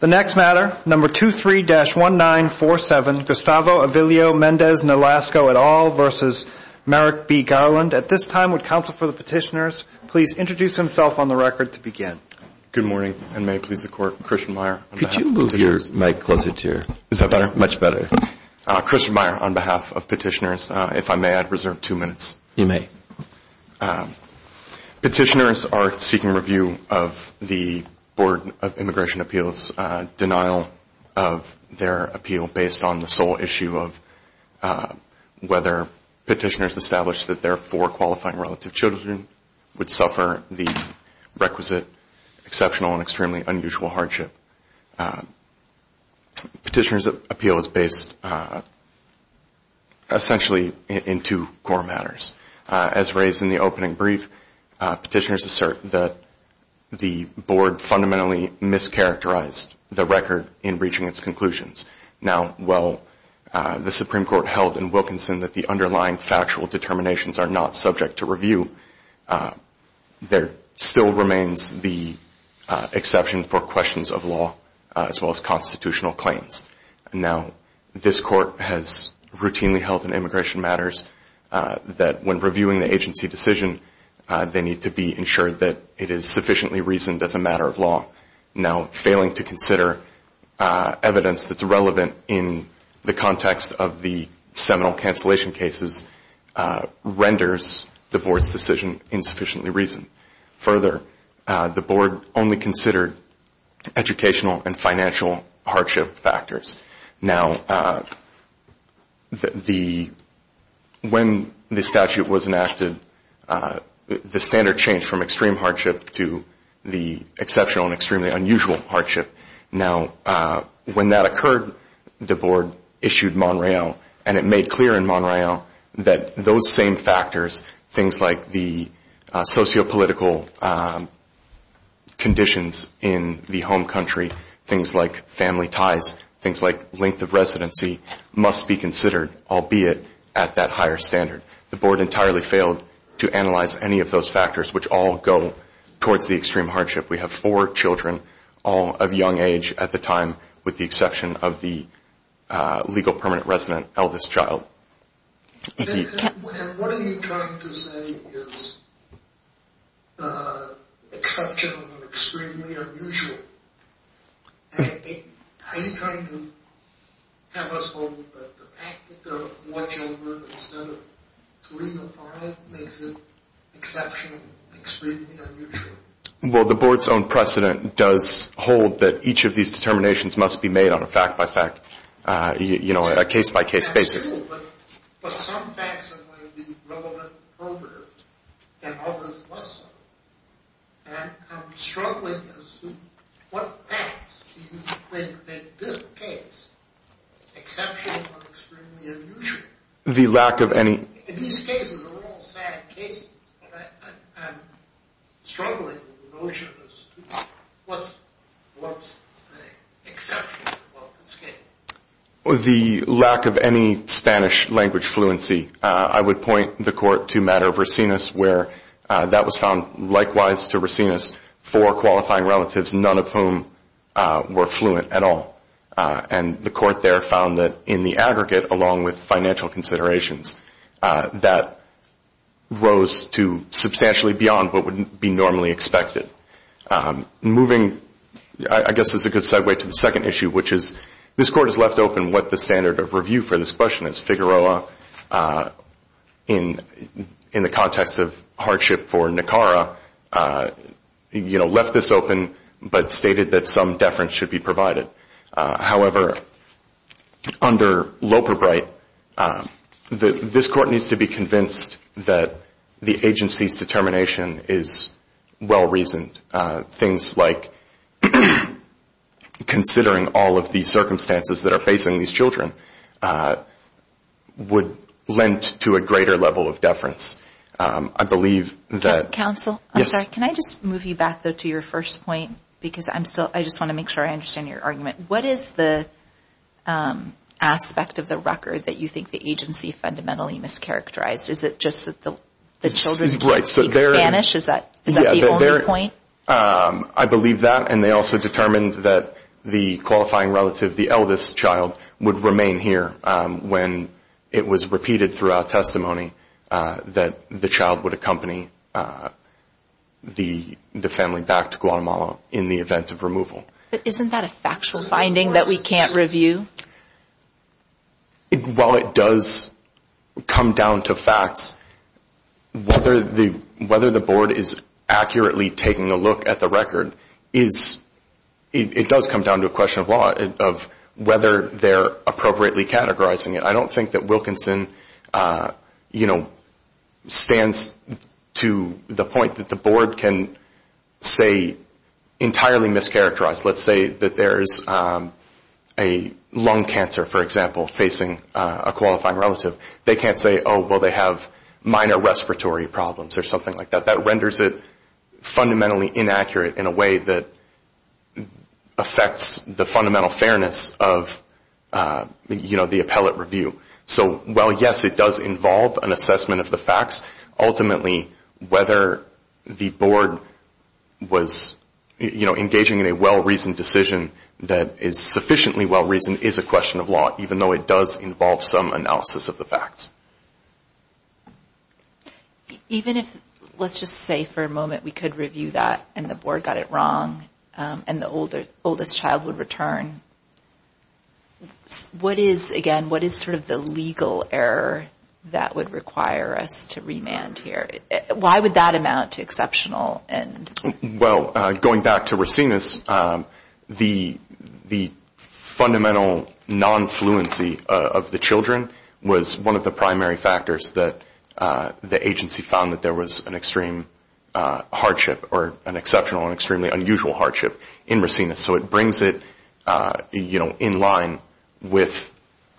The next matter, number 23-1947, Gustavo Avilio Mendez Nolasco et al. versus Merrick B. Garland. At this time, would counsel for the petitioners please introduce himself on the record to begin. Good morning, and may it please the Court. Christian Meyer on behalf of the petitioners. Could you move your mic closer to your – is that better? Much better. Christian Meyer on behalf of petitioners. If I may, I'd reserve two minutes. You may. Petitioners are seeking review of the Board of Immigration Appeals, denial of their appeal based on the sole issue of whether petitioners established that their four qualifying relative children would suffer the requisite exceptional and extremely unusual hardship. Petitioners' appeal is based essentially in two core matters. As raised in the opening brief, petitioners assert that the Board fundamentally mischaracterized the record in reaching its conclusions. Now, while the Supreme Court held in Wilkinson that the underlying factual determinations are not subject to review, there still remains the exception for questions of law as well as constitutional claims. Now, this Court has routinely held in immigration matters that when reviewing the agency decision, they need to be ensured that it is sufficiently reasoned as a matter of law. Now, failing to consider evidence that's relevant in the context of the seminal cancellation cases renders the Board's decision insufficiently reasoned. Further, the Board only considered educational and financial hardship factors. Now, when the statute was enacted, the standard changed from extreme hardship to the exceptional and extremely unusual hardship. Now, when that occurred, the Board issued Montreal, and it made clear in Montreal that those same factors, things like the sociopolitical conditions in the home country, things like family ties, things like length of residency, must be considered, albeit at that higher standard. The Board entirely failed to analyze any of those factors, which all go towards the extreme hardship. We have four children, all of young age at the time, with the exception of the legal permanent resident eldest child. And what are you trying to say is exceptional and extremely unusual? Are you trying to have us hold the fact that there are four children instead of three or four makes it exceptional and extremely unusual? Well, the Board's own precedent does hold that each of these determinations must be made on a fact-by-fact, you know, a case-by-case basis. But some facts are going to be relevant and others less so. And I'm struggling as to what facts do you think make this case exceptional and extremely unusual? The lack of any – In these cases, they're all sad cases. I'm struggling with the notion of what's exceptional about this case. The lack of any Spanish-language fluency. I would point the Court to Matter of Racines where that was found, likewise to Racines, four qualifying relatives, none of whom were fluent at all. And the Court there found that in the aggregate, along with financial considerations, that rose to substantially beyond what would be normally expected. Moving, I guess this is a good segue to the second issue, which is, this Court has left open what the standard of review for this question is. Figueroa, in the context of hardship for Nicara, you know, left this open but stated that some deference should be provided. However, under Loperbright, this Court needs to be convinced that the agency's determination is well-reasoned. Things like considering all of the circumstances that are facing these children would lend to a greater level of deference. I believe that – Michael, I'm sorry, can I just move you back, though, to your first point? Because I just want to make sure I understand your argument. What is the aspect of the record that you think the agency fundamentally mischaracterized? Is it just that the children don't speak Spanish? Is that the only point? I believe that, and they also determined that the qualifying relative, the eldest child, would remain here when it was repeated throughout testimony that the child would accompany the family back to Guatemala in the event of removal. But isn't that a factual finding that we can't review? While it does come down to facts, whether the Board is accurately taking a look at the record is – it does come down to a question of whether they're appropriately categorizing it. I don't think that Wilkinson stands to the point that the Board can say entirely mischaracterized. Let's say that there is a lung cancer, for example, facing a qualifying relative. They can't say, oh, well, they have minor respiratory problems or something like that. That renders it fundamentally inaccurate in a way that affects the fundamental fairness of the appellate review. So while, yes, it does involve an assessment of the facts, ultimately whether the Board was engaging in a well-reasoned decision that is sufficiently well-reasoned is a question of law, even though it does involve some analysis of the facts. Even if – let's just say for a moment we could review that and the Board got it wrong and the oldest child would return. What is, again, what is sort of the legal error that would require us to remand here? Why would that amount to exceptional? Well, going back to Racinus, the fundamental non-fluency of the children was one of the primary factors that the agency found that there was an extreme hardship or an exceptional and extremely unusual hardship in Racinus. So it brings it in line with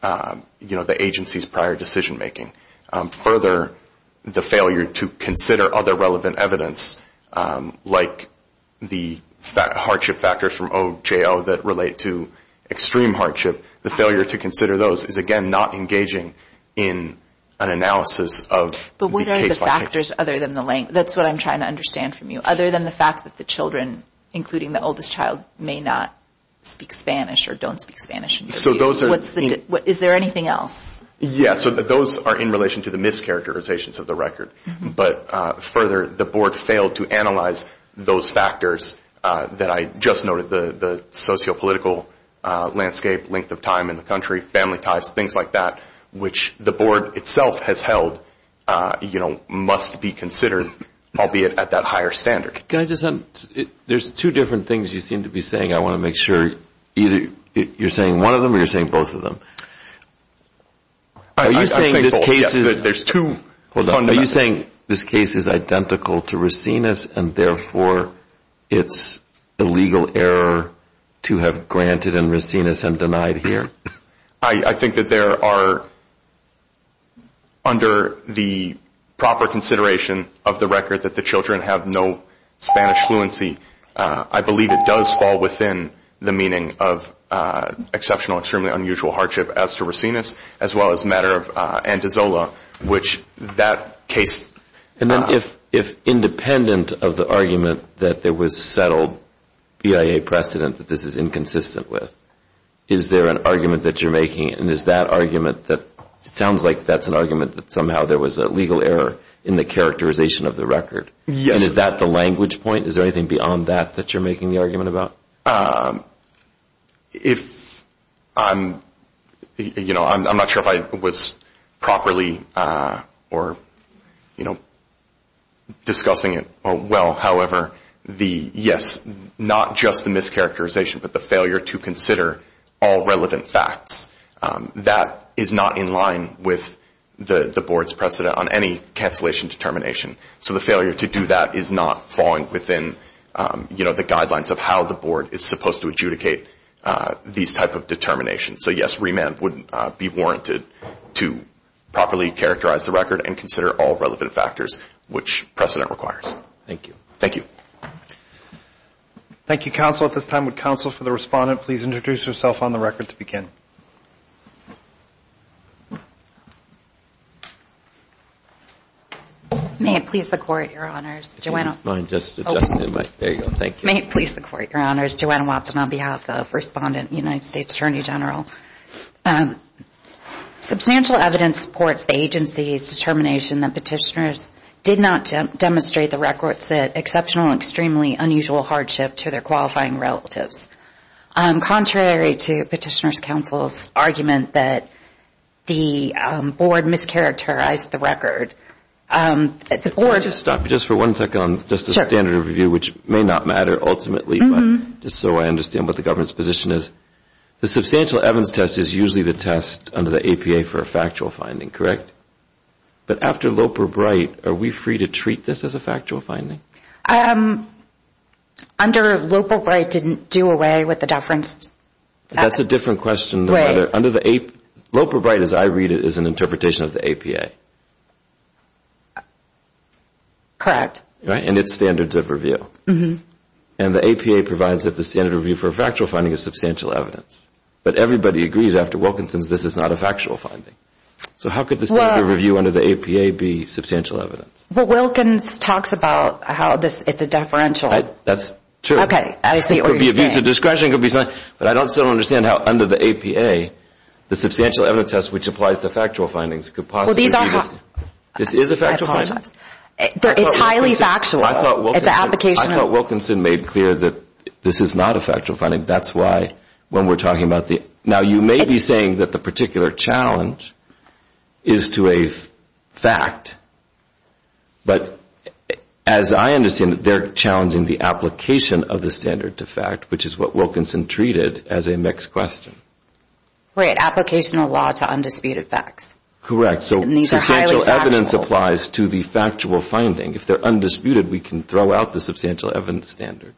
the agency's prior decision-making. Further, the failure to consider other relevant evidence, like the hardship factors from OJO that relate to extreme hardship, the failure to consider those is, again, not engaging in an analysis of the case by case. But what are the factors other than the length? That's what I'm trying to understand from you. Other than the fact that the children, including the oldest child, may not speak Spanish or don't speak Spanish in the review, is there anything else? Yes. So those are in relation to the mischaracterizations of the record. But further, the board failed to analyze those factors that I just noted, the sociopolitical landscape, length of time in the country, family ties, things like that, which the board itself has held must be considered, albeit at that higher standard. Can I just add, there's two different things you seem to be saying. I want to make sure either you're saying one of them or you're saying both of them. I'm saying both. Are you saying this case is identical to Racines and therefore it's a legal error to have granted in Racines and denied here? I think that there are, under the proper consideration of the record, that the children have no Spanish fluency. I believe it does fall within the meaning of exceptional, extremely unusual hardship as to Racines, as well as matter of Antezola, which that case. And then if independent of the argument that there was settled BIA precedent that this is inconsistent with, is there an argument that you're making, and is that argument that it sounds like that's an argument that somehow there was a legal error in the characterization of the record? Yes. And is that the language point? Is there anything beyond that that you're making the argument about? I'm not sure if I was properly discussing it well. However, yes, not just the mischaracterization, but the failure to consider all relevant facts. That is not in line with the board's precedent on any cancellation determination. So the failure to do that is not falling within, you know, the guidelines of how the board is supposed to adjudicate these type of determinations. So, yes, remand would be warranted to properly characterize the record and consider all relevant factors, which precedent requires. Thank you. Thank you. Thank you, counsel. At this time, would counsel for the respondent please introduce herself on the record to begin? May it please the Court, Your Honors. May it please the Court, Your Honors. Joanna Watson on behalf of Respondent and United States Attorney General. Substantial evidence supports the agency's determination that petitioners did not demonstrate the records that exceptional and extremely unusual hardship to their qualifying relatives. Contrary to Petitioner's Counsel's argument that the board mischaracterized the record, the board Can I just stop you just for one second on just the standard of review, which may not matter ultimately, but just so I understand what the government's position is. The substantial evidence test is usually the test under the APA for a factual finding, correct? But after Loper-Bright, are we free to treat this as a factual finding? Under Loper-Bright, didn't do away with the deference? That's a different question. Loper-Bright, as I read it, is an interpretation of the APA. Correct. Right? And it's standards of review. And the APA provides that the standard of review for a factual finding is substantial evidence. But everybody agrees after Wilkinson's this is not a factual finding. So how could the standard of review under the APA be substantial evidence? Well, Wilkinson talks about how it's a deferential. That's true. Okay. I see what you're saying. It could be a views of discretion. It could be something. But I still don't understand how under the APA, the substantial evidence test, which applies to factual findings, could possibly be this. This is a factual finding. It's highly factual. It's an application of I thought Wilkinson made clear that this is not a factual finding. That's why when we're talking about the Now, you may be saying that the particular challenge is to a fact. But as I understand it, they're challenging the application of the standard to fact, which is what Wilkinson treated as a mixed question. Right. Applicational law to undisputed facts. Correct. So substantial evidence applies to the factual finding. If they're undisputed, we can throw out the substantial evidence standard.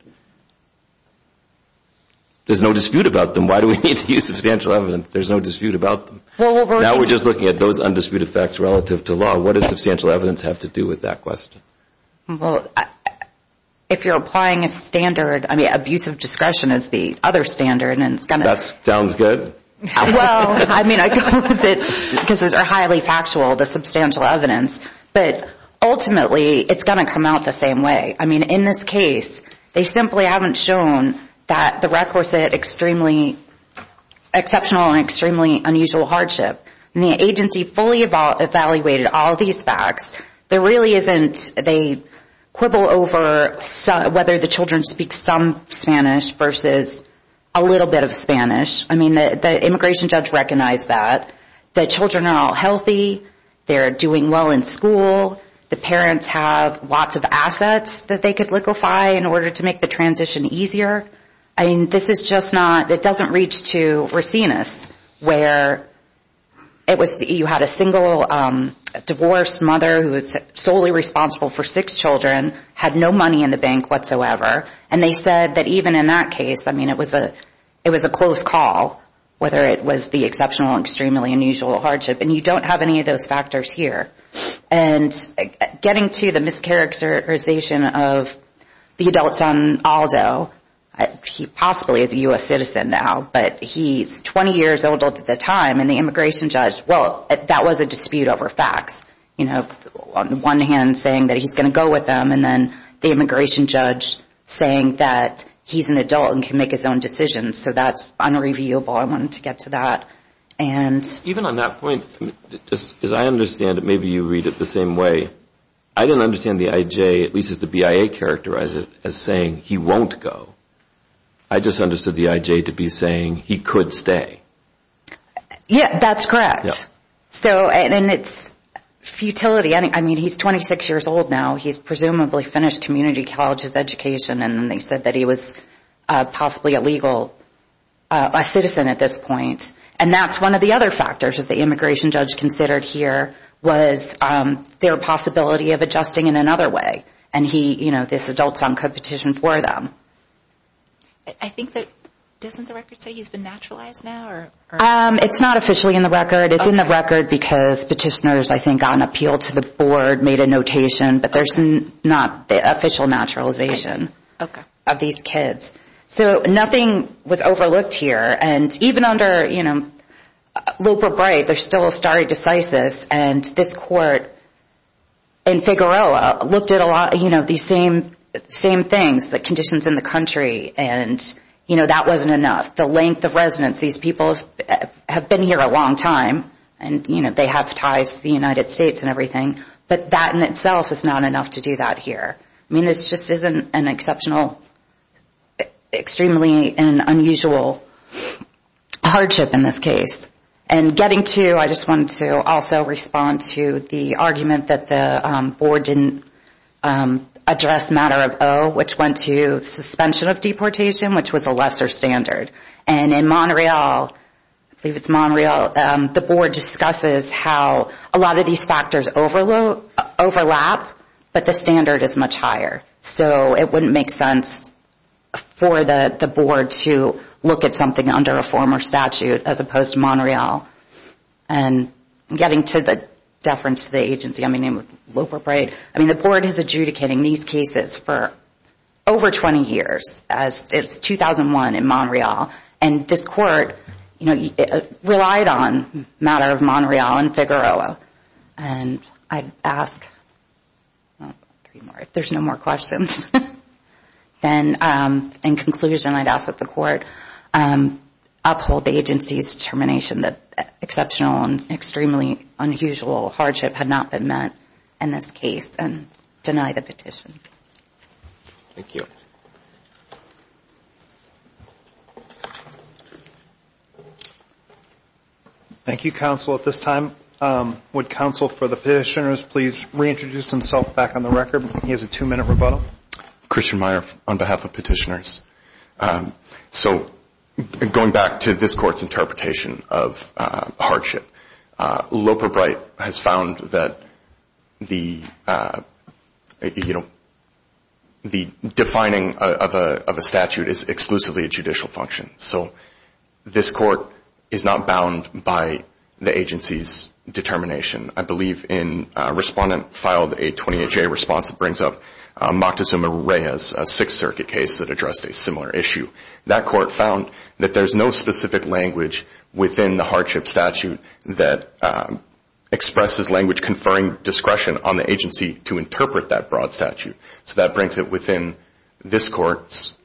There's no dispute about them. Why do we need to use substantial evidence? There's no dispute about them. Now we're just looking at those undisputed facts relative to law. What does substantial evidence have to do with that question? Well, if you're applying a standard, I mean, abusive discretion is the other standard. That sounds good. Well, I mean, I go with it because it's highly factual, the substantial evidence. But ultimately, it's going to come out the same way. I mean, in this case, they simply haven't shown that the records said extremely exceptional and extremely unusual hardship. And the agency fully evaluated all these facts. There really isn't a quibble over whether the children speak some Spanish versus a little bit of Spanish. I mean, the immigration judge recognized that. The children are all healthy. They're doing well in school. The parents have lots of assets that they could liquefy in order to make the transition easier. I mean, this is just not, it doesn't reach to Racines where it was, you had a single divorced mother who was solely responsible for six children, had no money in the bank whatsoever, and they said that even in that case, I mean, it was a close call, whether it was the exceptional and extremely unusual hardship. And you don't have any of those factors here. And getting to the mischaracterization of the adults on Aldo, he possibly is a U.S. citizen now, but he's 20 years old at the time, and the immigration judge, well, that was a dispute over facts. You know, on the one hand, saying that he's going to go with them, and then the immigration judge saying that he's an adult and can make his own decisions. So that's unreviewable. I wanted to get to that. Even on that point, as I understand it, maybe you read it the same way. I didn't understand the IJ, at least as the BIA characterized it, as saying he won't go. I just understood the IJ to be saying he could stay. Yeah, that's correct. And it's futility. I mean, he's 26 years old now. He's presumably finished community colleges education, and then they said that he was possibly a legal citizen at this point. And that's one of the other factors that the immigration judge considered here was their possibility of adjusting in another way, and, you know, this adult-son competition for them. I think that doesn't the record say he's been naturalized now? It's not officially in the record. It's in the record because petitioners, I think, on appeal to the board made a notation, but there's not the official naturalization of these kids. So nothing was overlooked here. And even under Loper-Bright, there's still a stare decisis, and this court in Figueroa looked at a lot of these same things, the conditions in the country, and, you know, that wasn't enough. The length of residence, these people have been here a long time, and, you know, they have ties to the United States and everything, but that in itself is not enough to do that here. I mean, this just isn't an exceptional, extremely unusual hardship in this case. And getting to, I just wanted to also respond to the argument that the board didn't address matter of O, which went to suspension of deportation, which was a lesser standard. And in Montreal, I believe it's Montreal, the board discusses how a lot of these factors overlap, but the standard is much higher. So it wouldn't make sense for the board to look at something under a former statute as opposed to Montreal. And getting to the deference to the agency, I mean, Loper-Bright, I mean, the board is adjudicating these cases for over 20 years, as it's 2001 in Montreal, and this court, you know, relied on matter of Montreal and Figueroa. And I'd ask, well, three more. If there's no more questions, then in conclusion, I'd ask that the court uphold the agency's determination that exceptional and extremely unusual hardship had not been met in this case and deny the petition. Thank you. Thank you, counsel. At this time, would counsel for the petitioners please reintroduce himself back on the record? He has a two-minute rebuttal. Christian Meyer on behalf of petitioners. So going back to this court's interpretation of hardship, Loper-Bright has found that the, you know, the defining of a statute is exclusively a judicial function. So this court is not bound by the agency's determination. I believe a respondent filed a 28-J response that brings up Moctezuma-Reyes, a Sixth Circuit case that addressed a similar issue. That court found that there's no specific language within the hardship statute that expresses language conferring discretion on the agency to interpret that broad statute. So that brings it within this court's,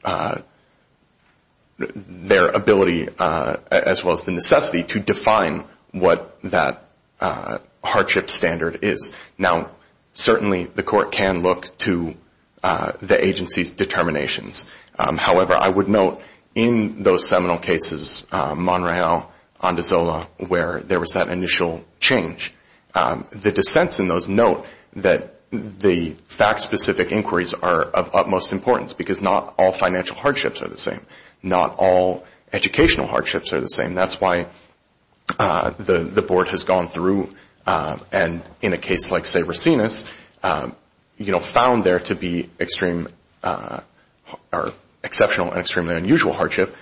their ability as well as the necessity to define what that hardship standard is. Now, certainly the court can look to the agency's determinations. However, I would note in those seminal cases, Monreal, Ondozola, where there was that initial change, the dissents in those note that the fact-specific inquiries are of utmost importance because not all financial hardships are the same. Not all educational hardships are the same. That's why the board has gone through and in a case like, say, Racinas, you know, found there to be extreme or exceptional and extremely unusual hardship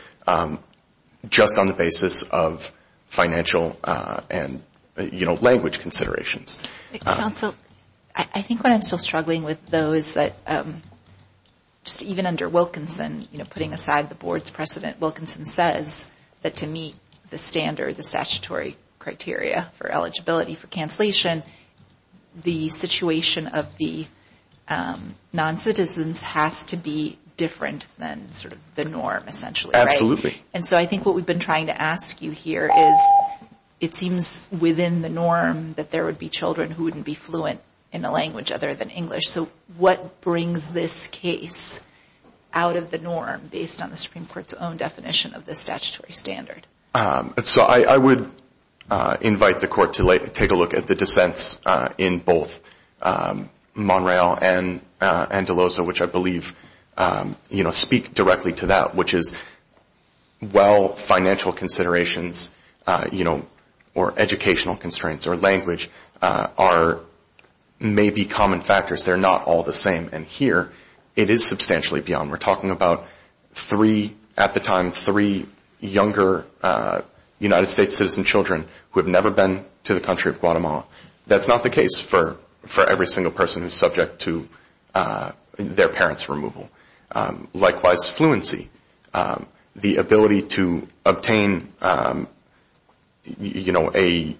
just on the basis of financial and, you know, language considerations. Counsel, I think what I'm still struggling with, though, is that just even under Wilkinson, you know, putting aside the board's precedent, Wilkinson says that to meet the standard, the statutory criteria for eligibility for cancellation, the situation of the non-citizens has to be different than sort of the norm essentially, right? And so I think what we've been trying to ask you here is it seems within the norm that there would be children who wouldn't be fluent in a language other than English. So what brings this case out of the norm based on the Supreme Court's own definition of the statutory standard? So I would invite the court to take a look at the dissents in both Monreal and Delosa, which I believe, you know, speak directly to that, which is while financial considerations, you know, or educational constraints or language are maybe common factors, they're not all the same. And here it is substantially beyond. We're talking about three, at the time, three younger United States citizen children who have never been to the country of Guatemala. That's not the case for every single person who's subject to their parents' removal. Likewise, fluency, the ability to obtain, you know, a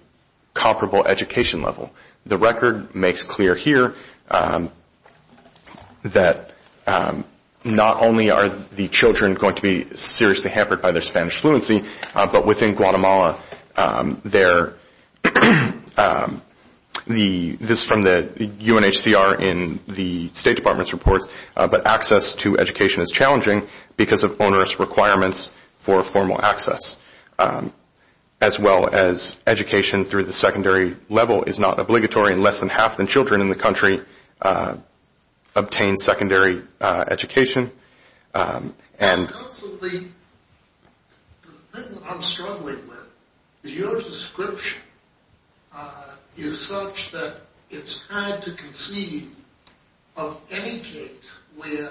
comparable education level. The record makes clear here that not only are the children going to be seriously hampered by their Spanish fluency, but within Guatemala, this is from the UNHCR in the State Department's reports, but access to education is challenging because of onerous requirements for formal access, as well as education through the secondary level is not obligatory. And less than half the children in the country obtain secondary education. In terms of the thing I'm struggling with is your description is such that it's hard to conceive of any case where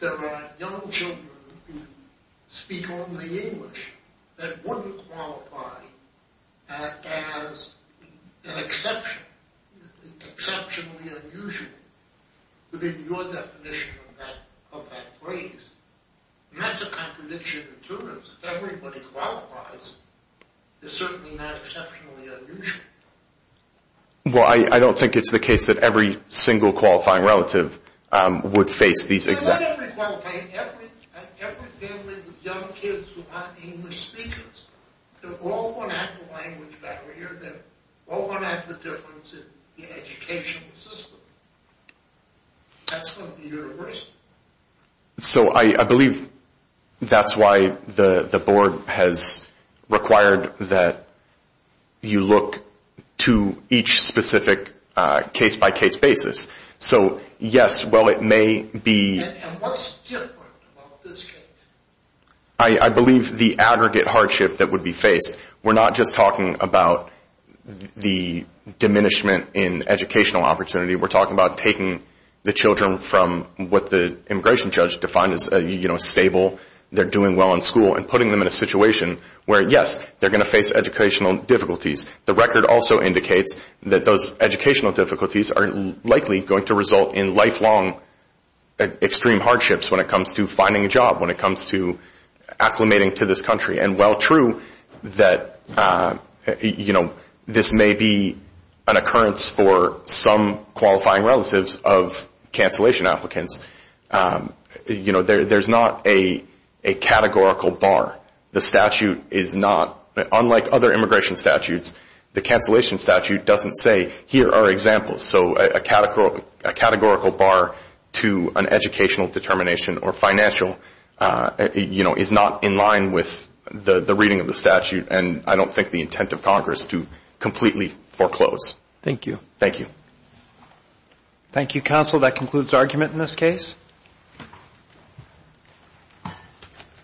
there are young children who speak only English that wouldn't qualify as an exception, exceptionally unusual, within your definition of that phrase. And that's a contradiction in terms. If everybody qualifies, it's certainly not exceptionally unusual. Well, I don't think it's the case that every single qualifying relative would face these exceptions. In every qualifying, every family with young kids who aren't English speakers, they're all going to have the language barrier. They're all going to have the difference in the educational system. That's from the university. So I believe that's why the board has required that you look to each specific case-by-case basis. And what's different about this case? I believe the aggregate hardship that would be faced. We're not just talking about the diminishment in educational opportunity. We're talking about taking the children from what the immigration judge defined as stable, they're doing well in school, and putting them in a situation where, yes, they're going to face educational difficulties. The record also indicates that those educational difficulties are likely going to result in lifelong extreme hardships when it comes to finding a job, when it comes to acclimating to this country. And while true that this may be an occurrence for some qualifying relatives of cancellation applicants, there's not a categorical bar. The statute is not, unlike other immigration statutes, the cancellation statute doesn't say, here are examples. So a categorical bar to an educational determination or financial, you know, is not in line with the reading of the statute, and I don't think the intent of Congress to completely foreclose. Thank you. Thank you. Thank you, counsel. That concludes argument in this case.